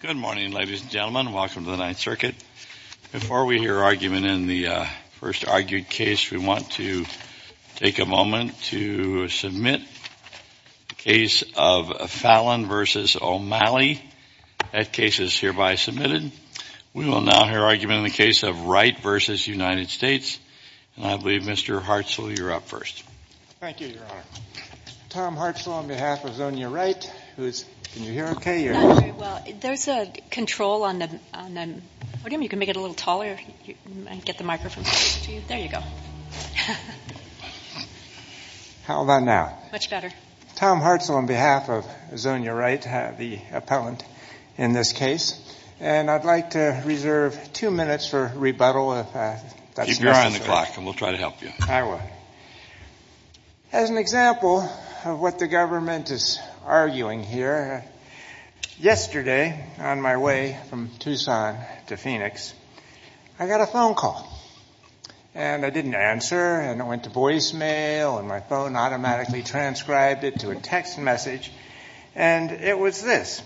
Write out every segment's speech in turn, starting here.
Good morning, ladies and gentlemen. Welcome to the Ninth Circuit. Before we hear argument in the first argued case, we want to take a moment to submit the case of Fallon v. O'Malley. That case is hereby submitted. We will now hear argument in the case of Wright v. United States. And I believe Mr. Hartzell, you're up first. Thank you, Your Honor. Tom Hartzell on behalf of Zonia Wright, who is, can you hear okay? Not very well. There's a control on the podium. You can make it a little taller and get the microphone closer to you. There you go. How about now? Much better. Tom Hartzell on behalf of Zonia Wright, the appellant in this case. And I'd like to reserve two minutes for rebuttal if that's necessary. Keep your eye on the clock and we'll try to help you. I will. As an example of what the government is arguing here, yesterday on my way from Tucson to Phoenix, I got a phone call. And I didn't answer and it went to voicemail and my phone automatically transcribed it to a text message. And it was this.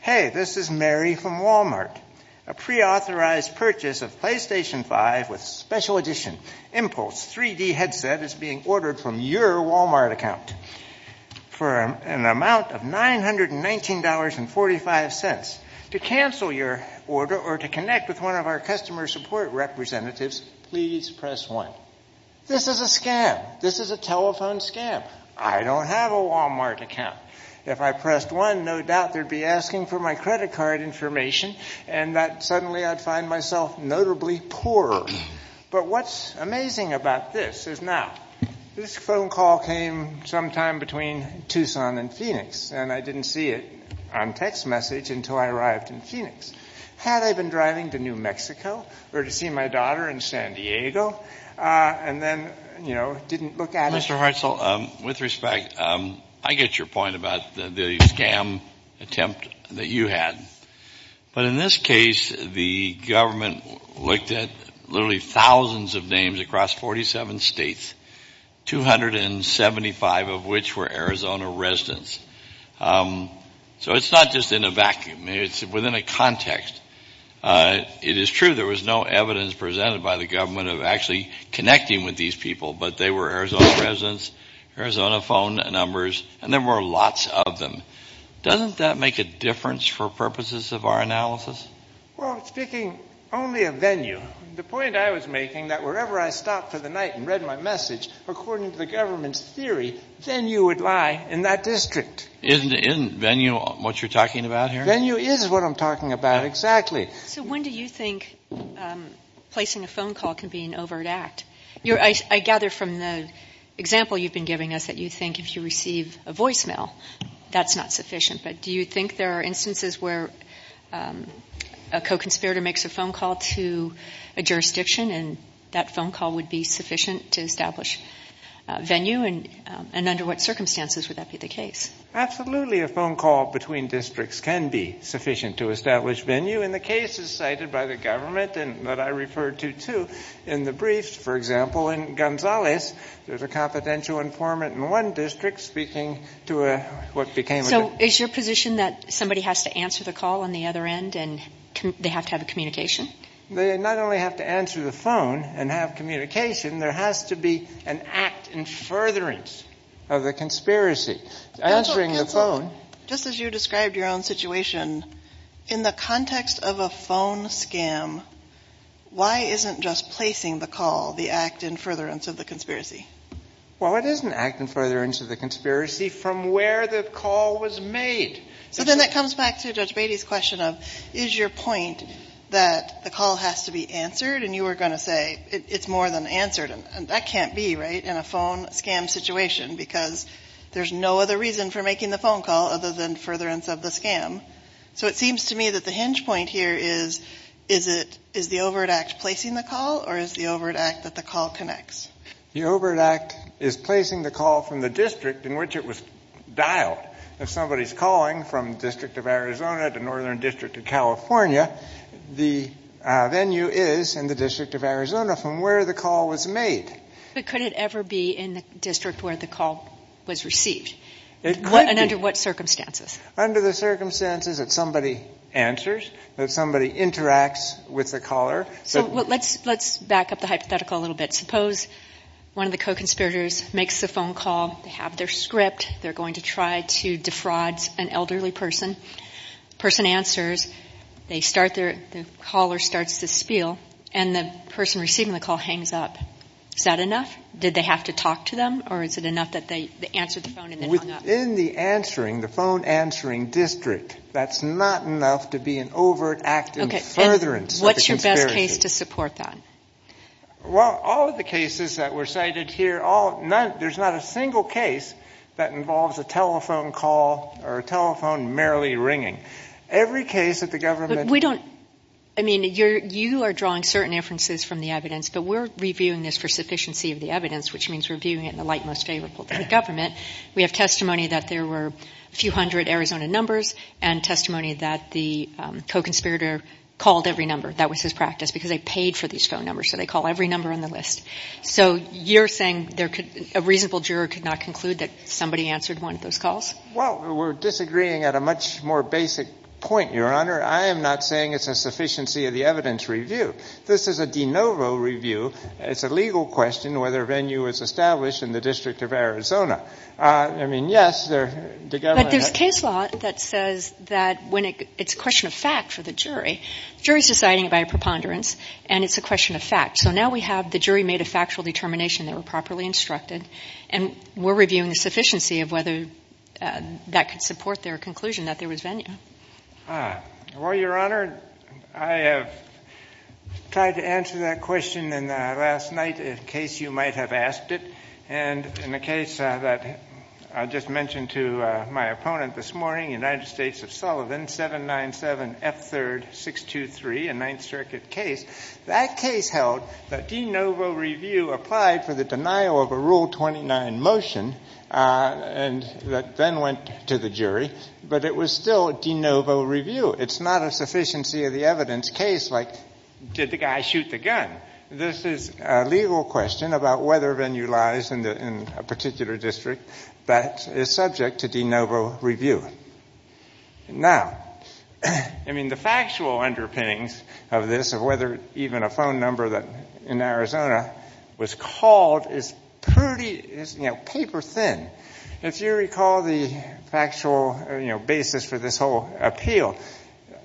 Hey, this is Mary from Walmart. A preauthorized purchase of PlayStation 5 with special edition Impulse 3D headset is being ordered from your Walmart account for an amount of $919.45. To cancel your order or to connect with one of our customer support representatives, please press 1. This is a scam. This is a telephone scam. I don't have a Walmart account. If I pressed 1, no doubt they'd be asking for my credit card information and that suddenly I'd find myself notably poorer. But what's amazing about this is now, this phone call came sometime between Tucson and Phoenix and I didn't see it on text message until I arrived in Phoenix. Had I been driving to New Mexico or to see my daughter in San Diego and then, you know, didn't look at it? Well, Mr. Hartzell, with respect, I get your point about the scam attempt that you had. But in this case, the government looked at literally thousands of names across 47 states, 275 of which were Arizona residents. So it's not just in a vacuum. It's within a context. It is true there was no evidence presented by the government of actually connecting with these people, but they were Arizona residents, Arizona phone numbers, and there were lots of them. Doesn't that make a difference for purposes of our analysis? Well, speaking only of venue, the point I was making that wherever I stopped for the night and read my message, according to the government's theory, venue would lie in that district. Isn't venue what you're talking about here? Venue is what I'm talking about, exactly. So when do you think placing a phone call can be an overt act? I gather from the example you've been giving us that you think if you receive a voicemail, that's not sufficient. But do you think there are instances where a co-conspirator makes a phone call to a jurisdiction and that phone call would be sufficient to establish venue? And under what circumstances would that be the case? Absolutely a phone call between districts can be sufficient to establish venue. And the case is cited by the government and that I referred to, too, in the briefs. For example, in Gonzales, there's a confidential informant in one district speaking to what became a... So is your position that somebody has to answer the call on the other end and they have to have a communication? They not only have to answer the phone and have communication, there has to be an act in furtherance of the conspiracy. Answering the phone... Counsel, just as you described your own situation, in the context of a phone scam, why isn't just placing the call the act in furtherance of the conspiracy? Well, it is an act in furtherance of the conspiracy from where the call was made. So then that comes back to Judge Beatty's question of, is your point that the call has to be answered? And you were going to say it's more than answered. And that can't be, right, in a phone scam situation, because there's no other reason for making the phone call other than furtherance of the scam. So it seems to me that the hinge point here is, is it, is the Overt Act placing the call or is the Overt Act that the call connects? The Overt Act is placing the call from the district in which it was dialed. If somebody's calling from the District of Arizona to Northern District of California, the venue is in the District of Arizona from where the call was made. But could it ever be in the district where the call was received? It could be. And under what circumstances? Under the circumstances that somebody answers, that somebody interacts with the caller. So let's back up the hypothetical a little bit. Suppose one of the co-conspirators makes the phone call. They have their script. They're going to try to defraud an elderly person. The person answers. They start their, the caller starts to spiel. And the person receiving the call hangs up. Is that enough? Did they have to talk to them or is it enough that they answered the phone and then hung up? Within the answering, the phone answering district, that's not enough to be an Overt Act in furtherance of the conspiracy. Is there a case to support that? Well, all of the cases that were cited here, all, none, there's not a single case that involves a telephone call or a telephone merely ringing. Every case that the government... We don't, I mean, you are drawing certain inferences from the evidence, but we're reviewing this for sufficiency of the evidence, which means we're viewing it in the light most favorable to the government. We have testimony that there were a few hundred Arizona numbers and testimony that the co-conspirator called every number. That was his practice because they paid for these phone numbers, so they call every number on the list. So you're saying there could, a reasonable juror could not conclude that somebody answered one of those calls? Well, we're disagreeing at a much more basic point, Your Honor. I am not saying it's a sufficiency of the evidence review. This is a de novo review. It's a legal question whether a venue was established in the District of Arizona. I mean, yes, the government... But there's case law that says that when it's a question of fact for the jury, the jury is deciding by a preponderance, and it's a question of fact. So now we have the jury made a factual determination they were properly instructed, and we're reviewing the sufficiency of whether that could support their conclusion that there was venue. Well, Your Honor, I have tried to answer that question last night in case you might have asked it. And in the case that I just mentioned to my opponent this morning, United States of Sullivan, 797F3-623, a Ninth Circuit case, that case held that de novo review applied for the denial of a Rule 29 motion that then went to the jury, but it was still a de novo review. It's not a sufficiency of the evidence case like, did the guy shoot the gun? Now, this is a legal question about whether venue lies in a particular district that is subject to de novo review. Now, I mean, the factual underpinnings of this, of whether even a phone number in Arizona was called, is pretty paper thin. If you recall the factual basis for this whole appeal,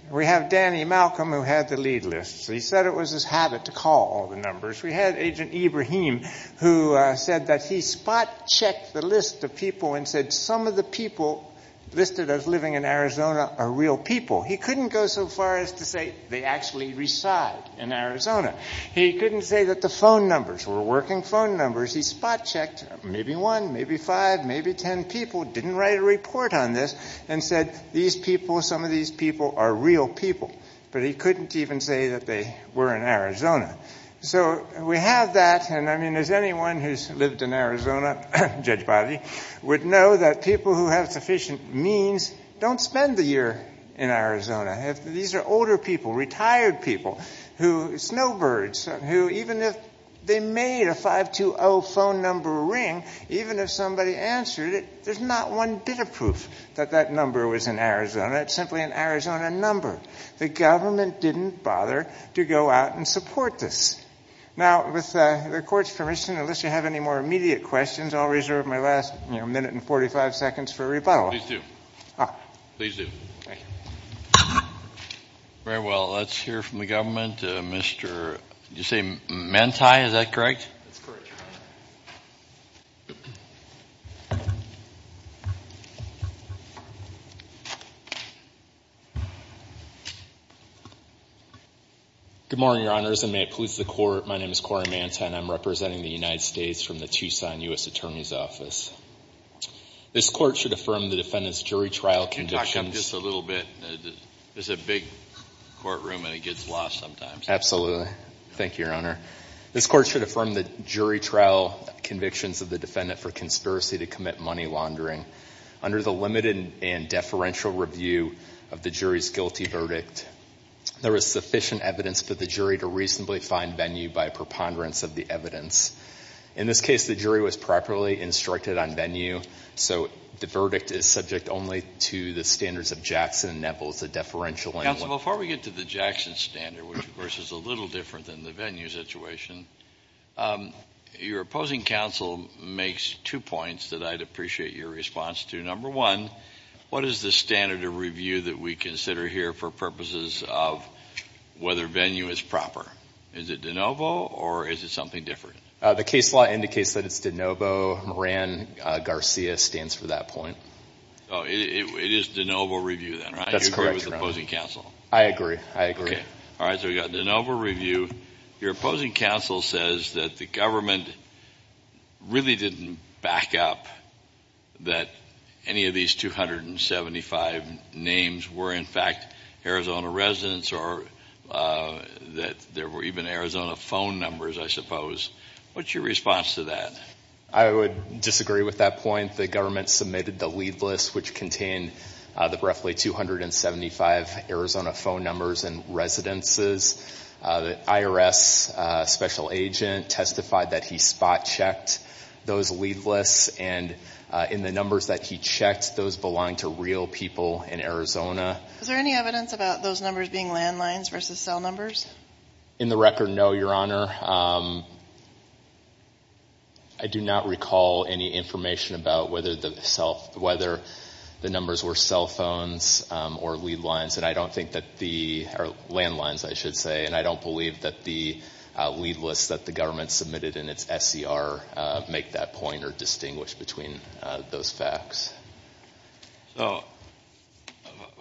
we have Danny Malcolm who had the lead list. He said it was his habit to call all the numbers. We had Agent Ibrahim who said that he spot checked the list of people and said some of the people listed as living in Arizona are real people. He couldn't go so far as to say they actually reside in Arizona. He couldn't say that the phone numbers were working phone numbers. He spot checked maybe one, maybe five, maybe ten people, didn't write a report on this, and said these people, some of these people are real people. But he couldn't even say that they were in Arizona. So we have that. And, I mean, as anyone who's lived in Arizona, Judge Boddy, would know that people who have sufficient means don't spend the year in Arizona. These are older people, retired people, snowbirds, who even if they made a 520 phone number ring, even if somebody answered it, there's not one bit of proof that that number was in Arizona. It's simply an Arizona number. The government didn't bother to go out and support this. Now, with the court's permission, unless you have any more immediate questions, I'll reserve my last, you know, minute and 45 seconds for rebuttal. Please do. Please do. Thank you. Very well. Let's hear from the government. Did you say Manti? Is that correct? That's correct, Your Honor. Good morning, Your Honors, and may it please the Court. My name is Cory Manti, and I'm representing the United States from the Tucson U.S. Attorney's Office. This Court should affirm the defendant's jury trial conditions. There's a big courtroom, and it gets lost sometimes. Thank you, Your Honor. This Court should affirm the jury trial convictions of the defendant for conspiracy to commit money laundering. Under the limited and deferential review of the jury's guilty verdict, there is sufficient evidence for the jury to reasonably find venue by preponderance of the evidence. In this case, the jury was properly instructed on venue, so the verdict is subject only to the standards of Jackson and Neville. It's a deferential. Counsel, before we get to the Jackson standard, which, of course, is a little different than the venue situation, your opposing counsel makes two points that I'd appreciate your response to. Number one, what is the standard of review that we consider here for purposes of whether venue is proper? Is it de novo, or is it something different? The case law indicates that it's de novo. Ran Garcia stands for that point. Oh, it is de novo review, then, right? That's correct, Your Honor. You agree with the opposing counsel? I agree. I agree. Okay. All right. So we've got de novo review. Your opposing counsel says that the government really didn't back up that any of these 275 names were, in fact, Arizona residents, or that there were even Arizona phone numbers, I suppose. What's your response to that? I would disagree with that point. The government submitted the lead list, which contained roughly 275 Arizona phone numbers and residences. The IRS special agent testified that he spot-checked those lead lists, and in the numbers that he checked, those belonged to real people in Arizona. Is there any evidence about those numbers being landlines versus cell numbers? In the record, no, Your Honor. I do not recall any information about whether the numbers were cell phones or lead lines, or landlines, I should say, and I don't believe that the lead lists that the government submitted in its SCR make that point or distinguish between those facts. So,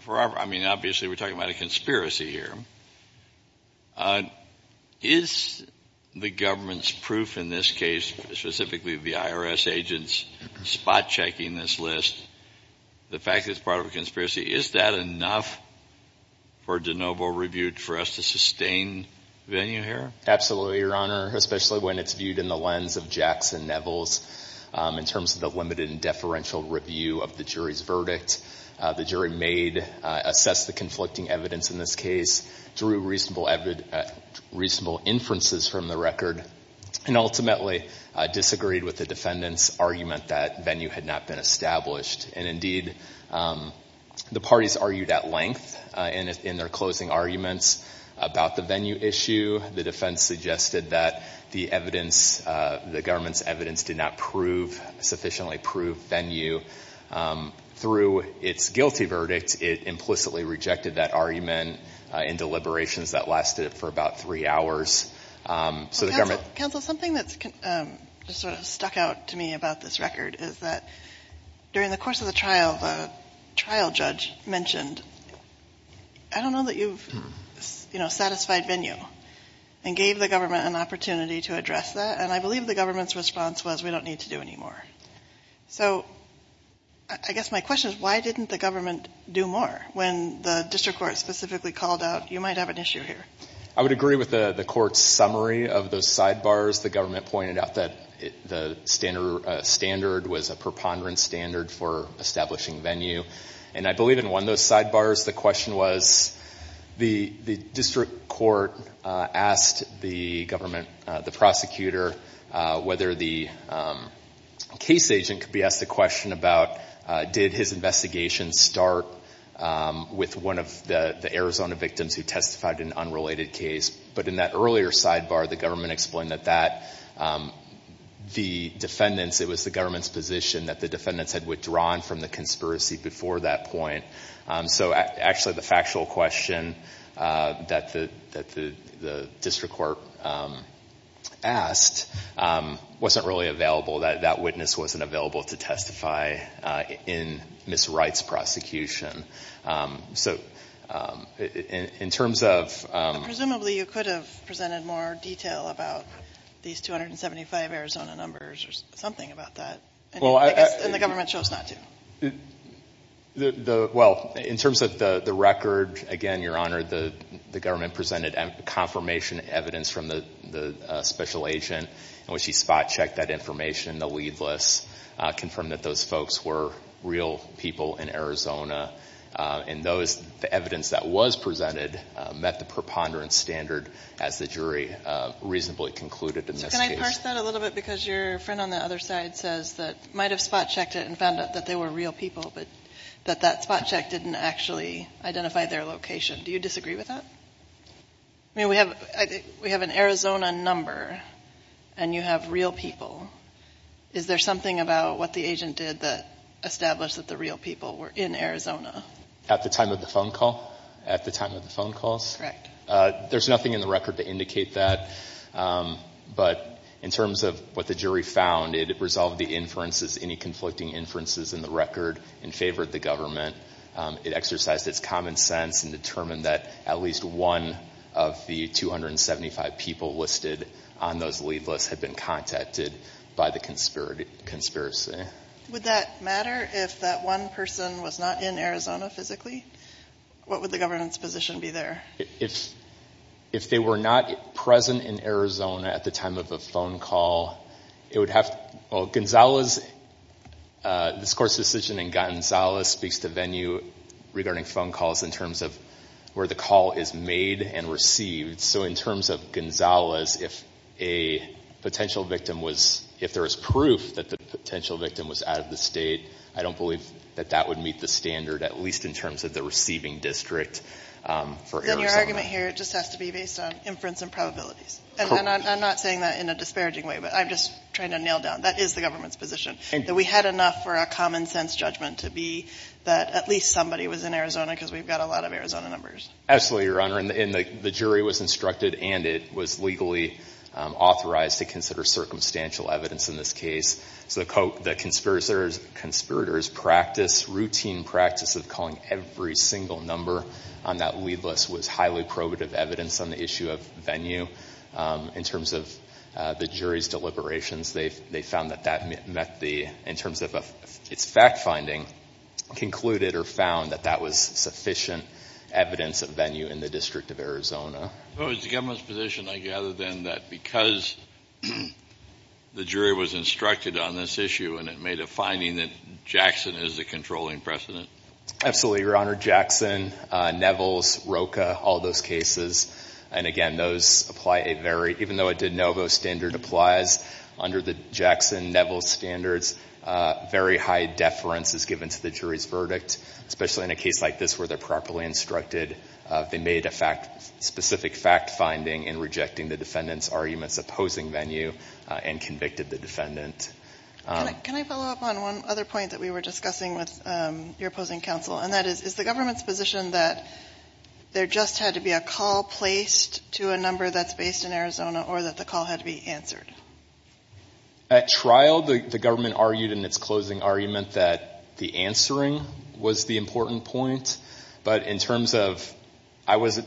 I mean, obviously we're talking about a conspiracy here. Is the government's proof in this case, specifically the IRS agent's spot-checking this list, the fact that it's part of a conspiracy, is that enough for de novo review for us to sustain venue here? Absolutely, Your Honor, especially when it's viewed in the lens of Jackson Nevels, in terms of the limited and deferential review of the jury's verdict. The jury made, assessed the conflicting evidence in this case through reasonable inferences from the record, and ultimately disagreed with the defendant's argument that venue had not been established. And, indeed, the parties argued at length in their closing arguments about the venue issue. The defense suggested that the evidence, the government's evidence, did not sufficiently prove venue. Through its guilty verdict, it implicitly rejected that argument in deliberations that lasted for about three hours. Counsel, something that's sort of stuck out to me about this record is that during the course of the trial, the trial judge mentioned, I don't know that you've satisfied venue, and gave the government an opportunity to address that. And I believe the government's response was, we don't need to do any more. So I guess my question is, why didn't the government do more? When the district court specifically called out, you might have an issue here. I would agree with the court's summary of those sidebars. The government pointed out that the standard was a preponderance standard for establishing venue, and I believe it won those sidebars. The question was, the district court asked the government, the prosecutor, whether the case agent could be asked the question about, did his investigation start with one of the Arizona victims who testified in an unrelated case? But in that earlier sidebar, the government explained that the defendants, it was the government's position that the defendants had withdrawn from the conspiracy before that point. So actually, the factual question that the district court asked wasn't really available. That witness wasn't available to testify in Ms. Wright's prosecution. So in terms of— Presumably you could have presented more detail about these 275 Arizona numbers or something about that. And the government chose not to. Well, in terms of the record, again, Your Honor, the government presented confirmation evidence from the special agent in which he spot-checked that information in the lead list, confirmed that those folks were real people in Arizona. And the evidence that was presented met the preponderance standard, as the jury reasonably concluded in this case. Can I parse that a little bit? Because your friend on the other side says that might have spot-checked it and found out that they were real people, but that that spot-check didn't actually identify their location. Do you disagree with that? I mean, we have an Arizona number, and you have real people. Is there something about what the agent did that established that the real people were in Arizona? At the time of the phone call? At the time of the phone calls? Correct. There's nothing in the record to indicate that. But in terms of what the jury found, it resolved the inferences, any conflicting inferences in the record, and favored the government. It exercised its common sense and determined that at least one of the 275 people listed on those lead lists had been contacted by the conspiracy. Would that matter if that one person was not in Arizona physically? What would the government's position be there? If they were not present in Arizona at the time of the phone call, it would have to – Gonzales, this court's decision in Gonzales speaks to venue regarding phone calls in terms of where the call is made and received. So in terms of Gonzales, if a potential victim was – if there was proof that the potential victim was out of the state, I don't believe that that would meet the standard, at least in terms of the receiving district for Arizona. Then your argument here just has to be based on inference and probabilities. And I'm not saying that in a disparaging way, but I'm just trying to nail down. That is the government's position, that we had enough for a common sense judgment to be that at least somebody was in Arizona because we've got a lot of Arizona numbers. Absolutely, Your Honor. And the jury was instructed and it was legally authorized to consider circumstantial evidence in this case. So the conspirators' practice, routine practice of calling every single number on that lead list was highly probative evidence on the issue of venue. In terms of the jury's deliberations, they found that that met the – in terms of its fact-finding, concluded or found that that was sufficient evidence of venue in the District of Arizona. It was the government's position, I gather then, that because the jury was instructed on this issue and it made a finding that Jackson is the controlling precedent. Absolutely, Your Honor. Jackson, Nevels, Rocha, all those cases. And again, those apply a very – even though a de novo standard applies under the Jackson-Nevels standards, very high deference is given to the jury's verdict, especially in a case like this where they're properly instructed. They made a specific fact-finding in rejecting the defendant's arguments opposing venue and convicted the defendant. Can I follow up on one other point that we were discussing with your opposing counsel? And that is, is the government's position that there just had to be a call placed to a number that's based in Arizona or that the call had to be answered? At trial, the government argued in its closing argument that the answering was the important point. But in terms of – I was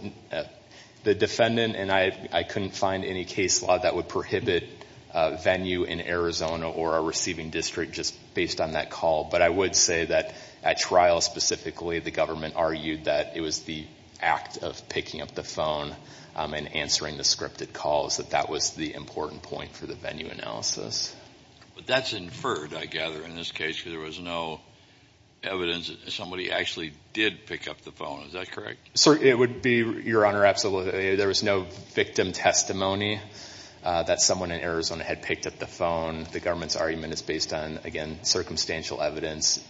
the defendant and I couldn't find any case law that would prohibit venue in Arizona or a receiving district just based on that call. But I would say that at trial specifically, the government argued that it was the act of picking up the phone and answering the scripted calls, that that was the important point for the venue analysis. But that's inferred, I gather, in this case, because there was no evidence that somebody actually did pick up the phone. Is that correct? It would be, Your Honor, absolutely. There was no victim testimony that someone in Arizona had picked up the phone. The government's argument is based on, again, circumstantial evidence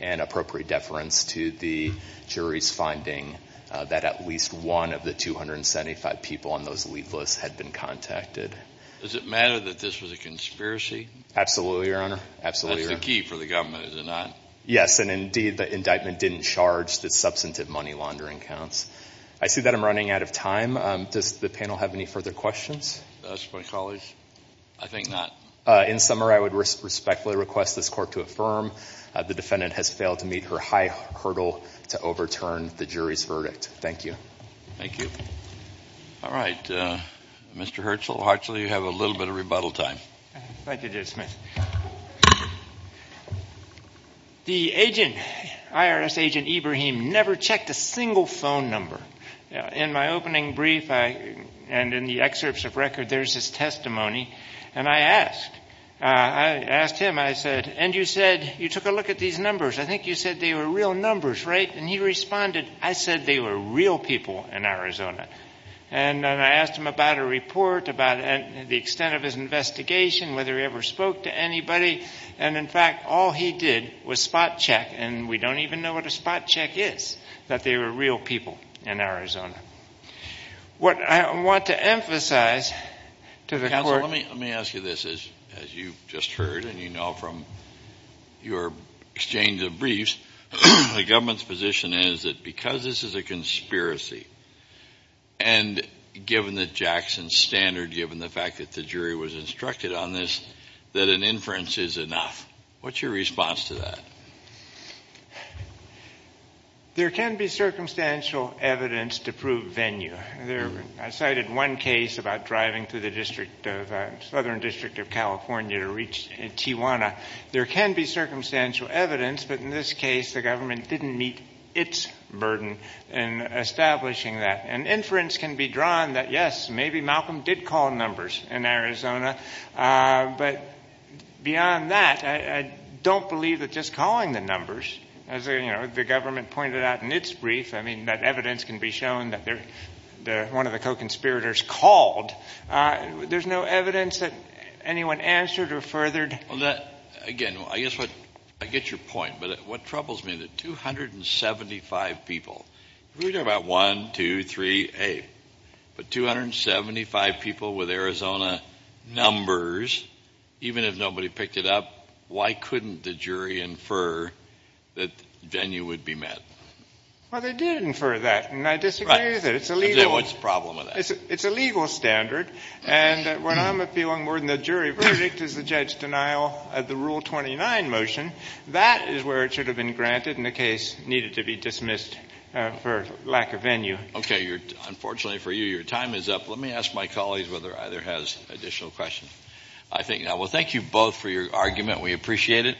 and appropriate deference to the jury's finding that at least one of the 275 people on those lead lists had been contacted. Does it matter that this was a conspiracy? Absolutely, Your Honor. That's the key for the government, is it not? Yes, and indeed the indictment didn't charge the substantive money laundering counts. I see that I'm running out of time. Does the panel have any further questions? Mr. McAuley? I think not. In summary, I would respectfully request this court to affirm the defendant has failed to meet her high hurdle to overturn the jury's verdict. Thank you. Thank you. All right. Mr. Herschel, Hartsley, you have a little bit of rebuttal time. Thank you, Judge Smith. The agent, IRS agent Ibrahim, never checked a single phone number. In my opening brief and in the excerpts of record, there's his testimony, and I asked. I asked him, I said, and you said you took a look at these numbers. I think you said they were real numbers, right? And he responded, I said they were real people in Arizona. And I asked him about a report, about the extent of his investigation, whether he ever spoke to anybody, and, in fact, all he did was spot check, and we don't even know what a spot check is, that they were real people in Arizona. What I want to emphasize to the court. Counsel, let me ask you this. As you just heard and you know from your exchange of briefs, the government's position is that because this is a conspiracy, and given the Jackson standard, given the fact that the jury was instructed on this, that an inference is enough. What's your response to that? There can be circumstantial evidence to prove venue. I cited one case about driving through the Southern District of California to reach Tijuana. There can be circumstantial evidence, but in this case, the government didn't meet its burden in establishing that. An inference can be drawn that, yes, maybe Malcolm did call numbers in Arizona. But beyond that, I don't believe that just calling the numbers, as the government pointed out in its brief, I mean, that evidence can be shown that one of the co-conspirators called. There's no evidence that anyone answered or furthered. Again, I guess I get your point. But what troubles me is that 275 people, if we talk about 1, 2, 3, 8, but 275 people with Arizona numbers, even if nobody picked it up, why couldn't the jury infer that venue would be met? Well, they did infer that, and I disagree with that. It's illegal. What's the problem with that? It's a legal standard, and when I'm appealing more than the jury verdict as the judge's denial of the Rule 29 motion, that is where it should have been granted, and the case needed to be dismissed for lack of venue. Okay. Unfortunately for you, your time is up. Let me ask my colleagues whether either has additional questions. I think not. Well, thank you both for your argument. We appreciate it.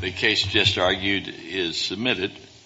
The case just argued is submitted.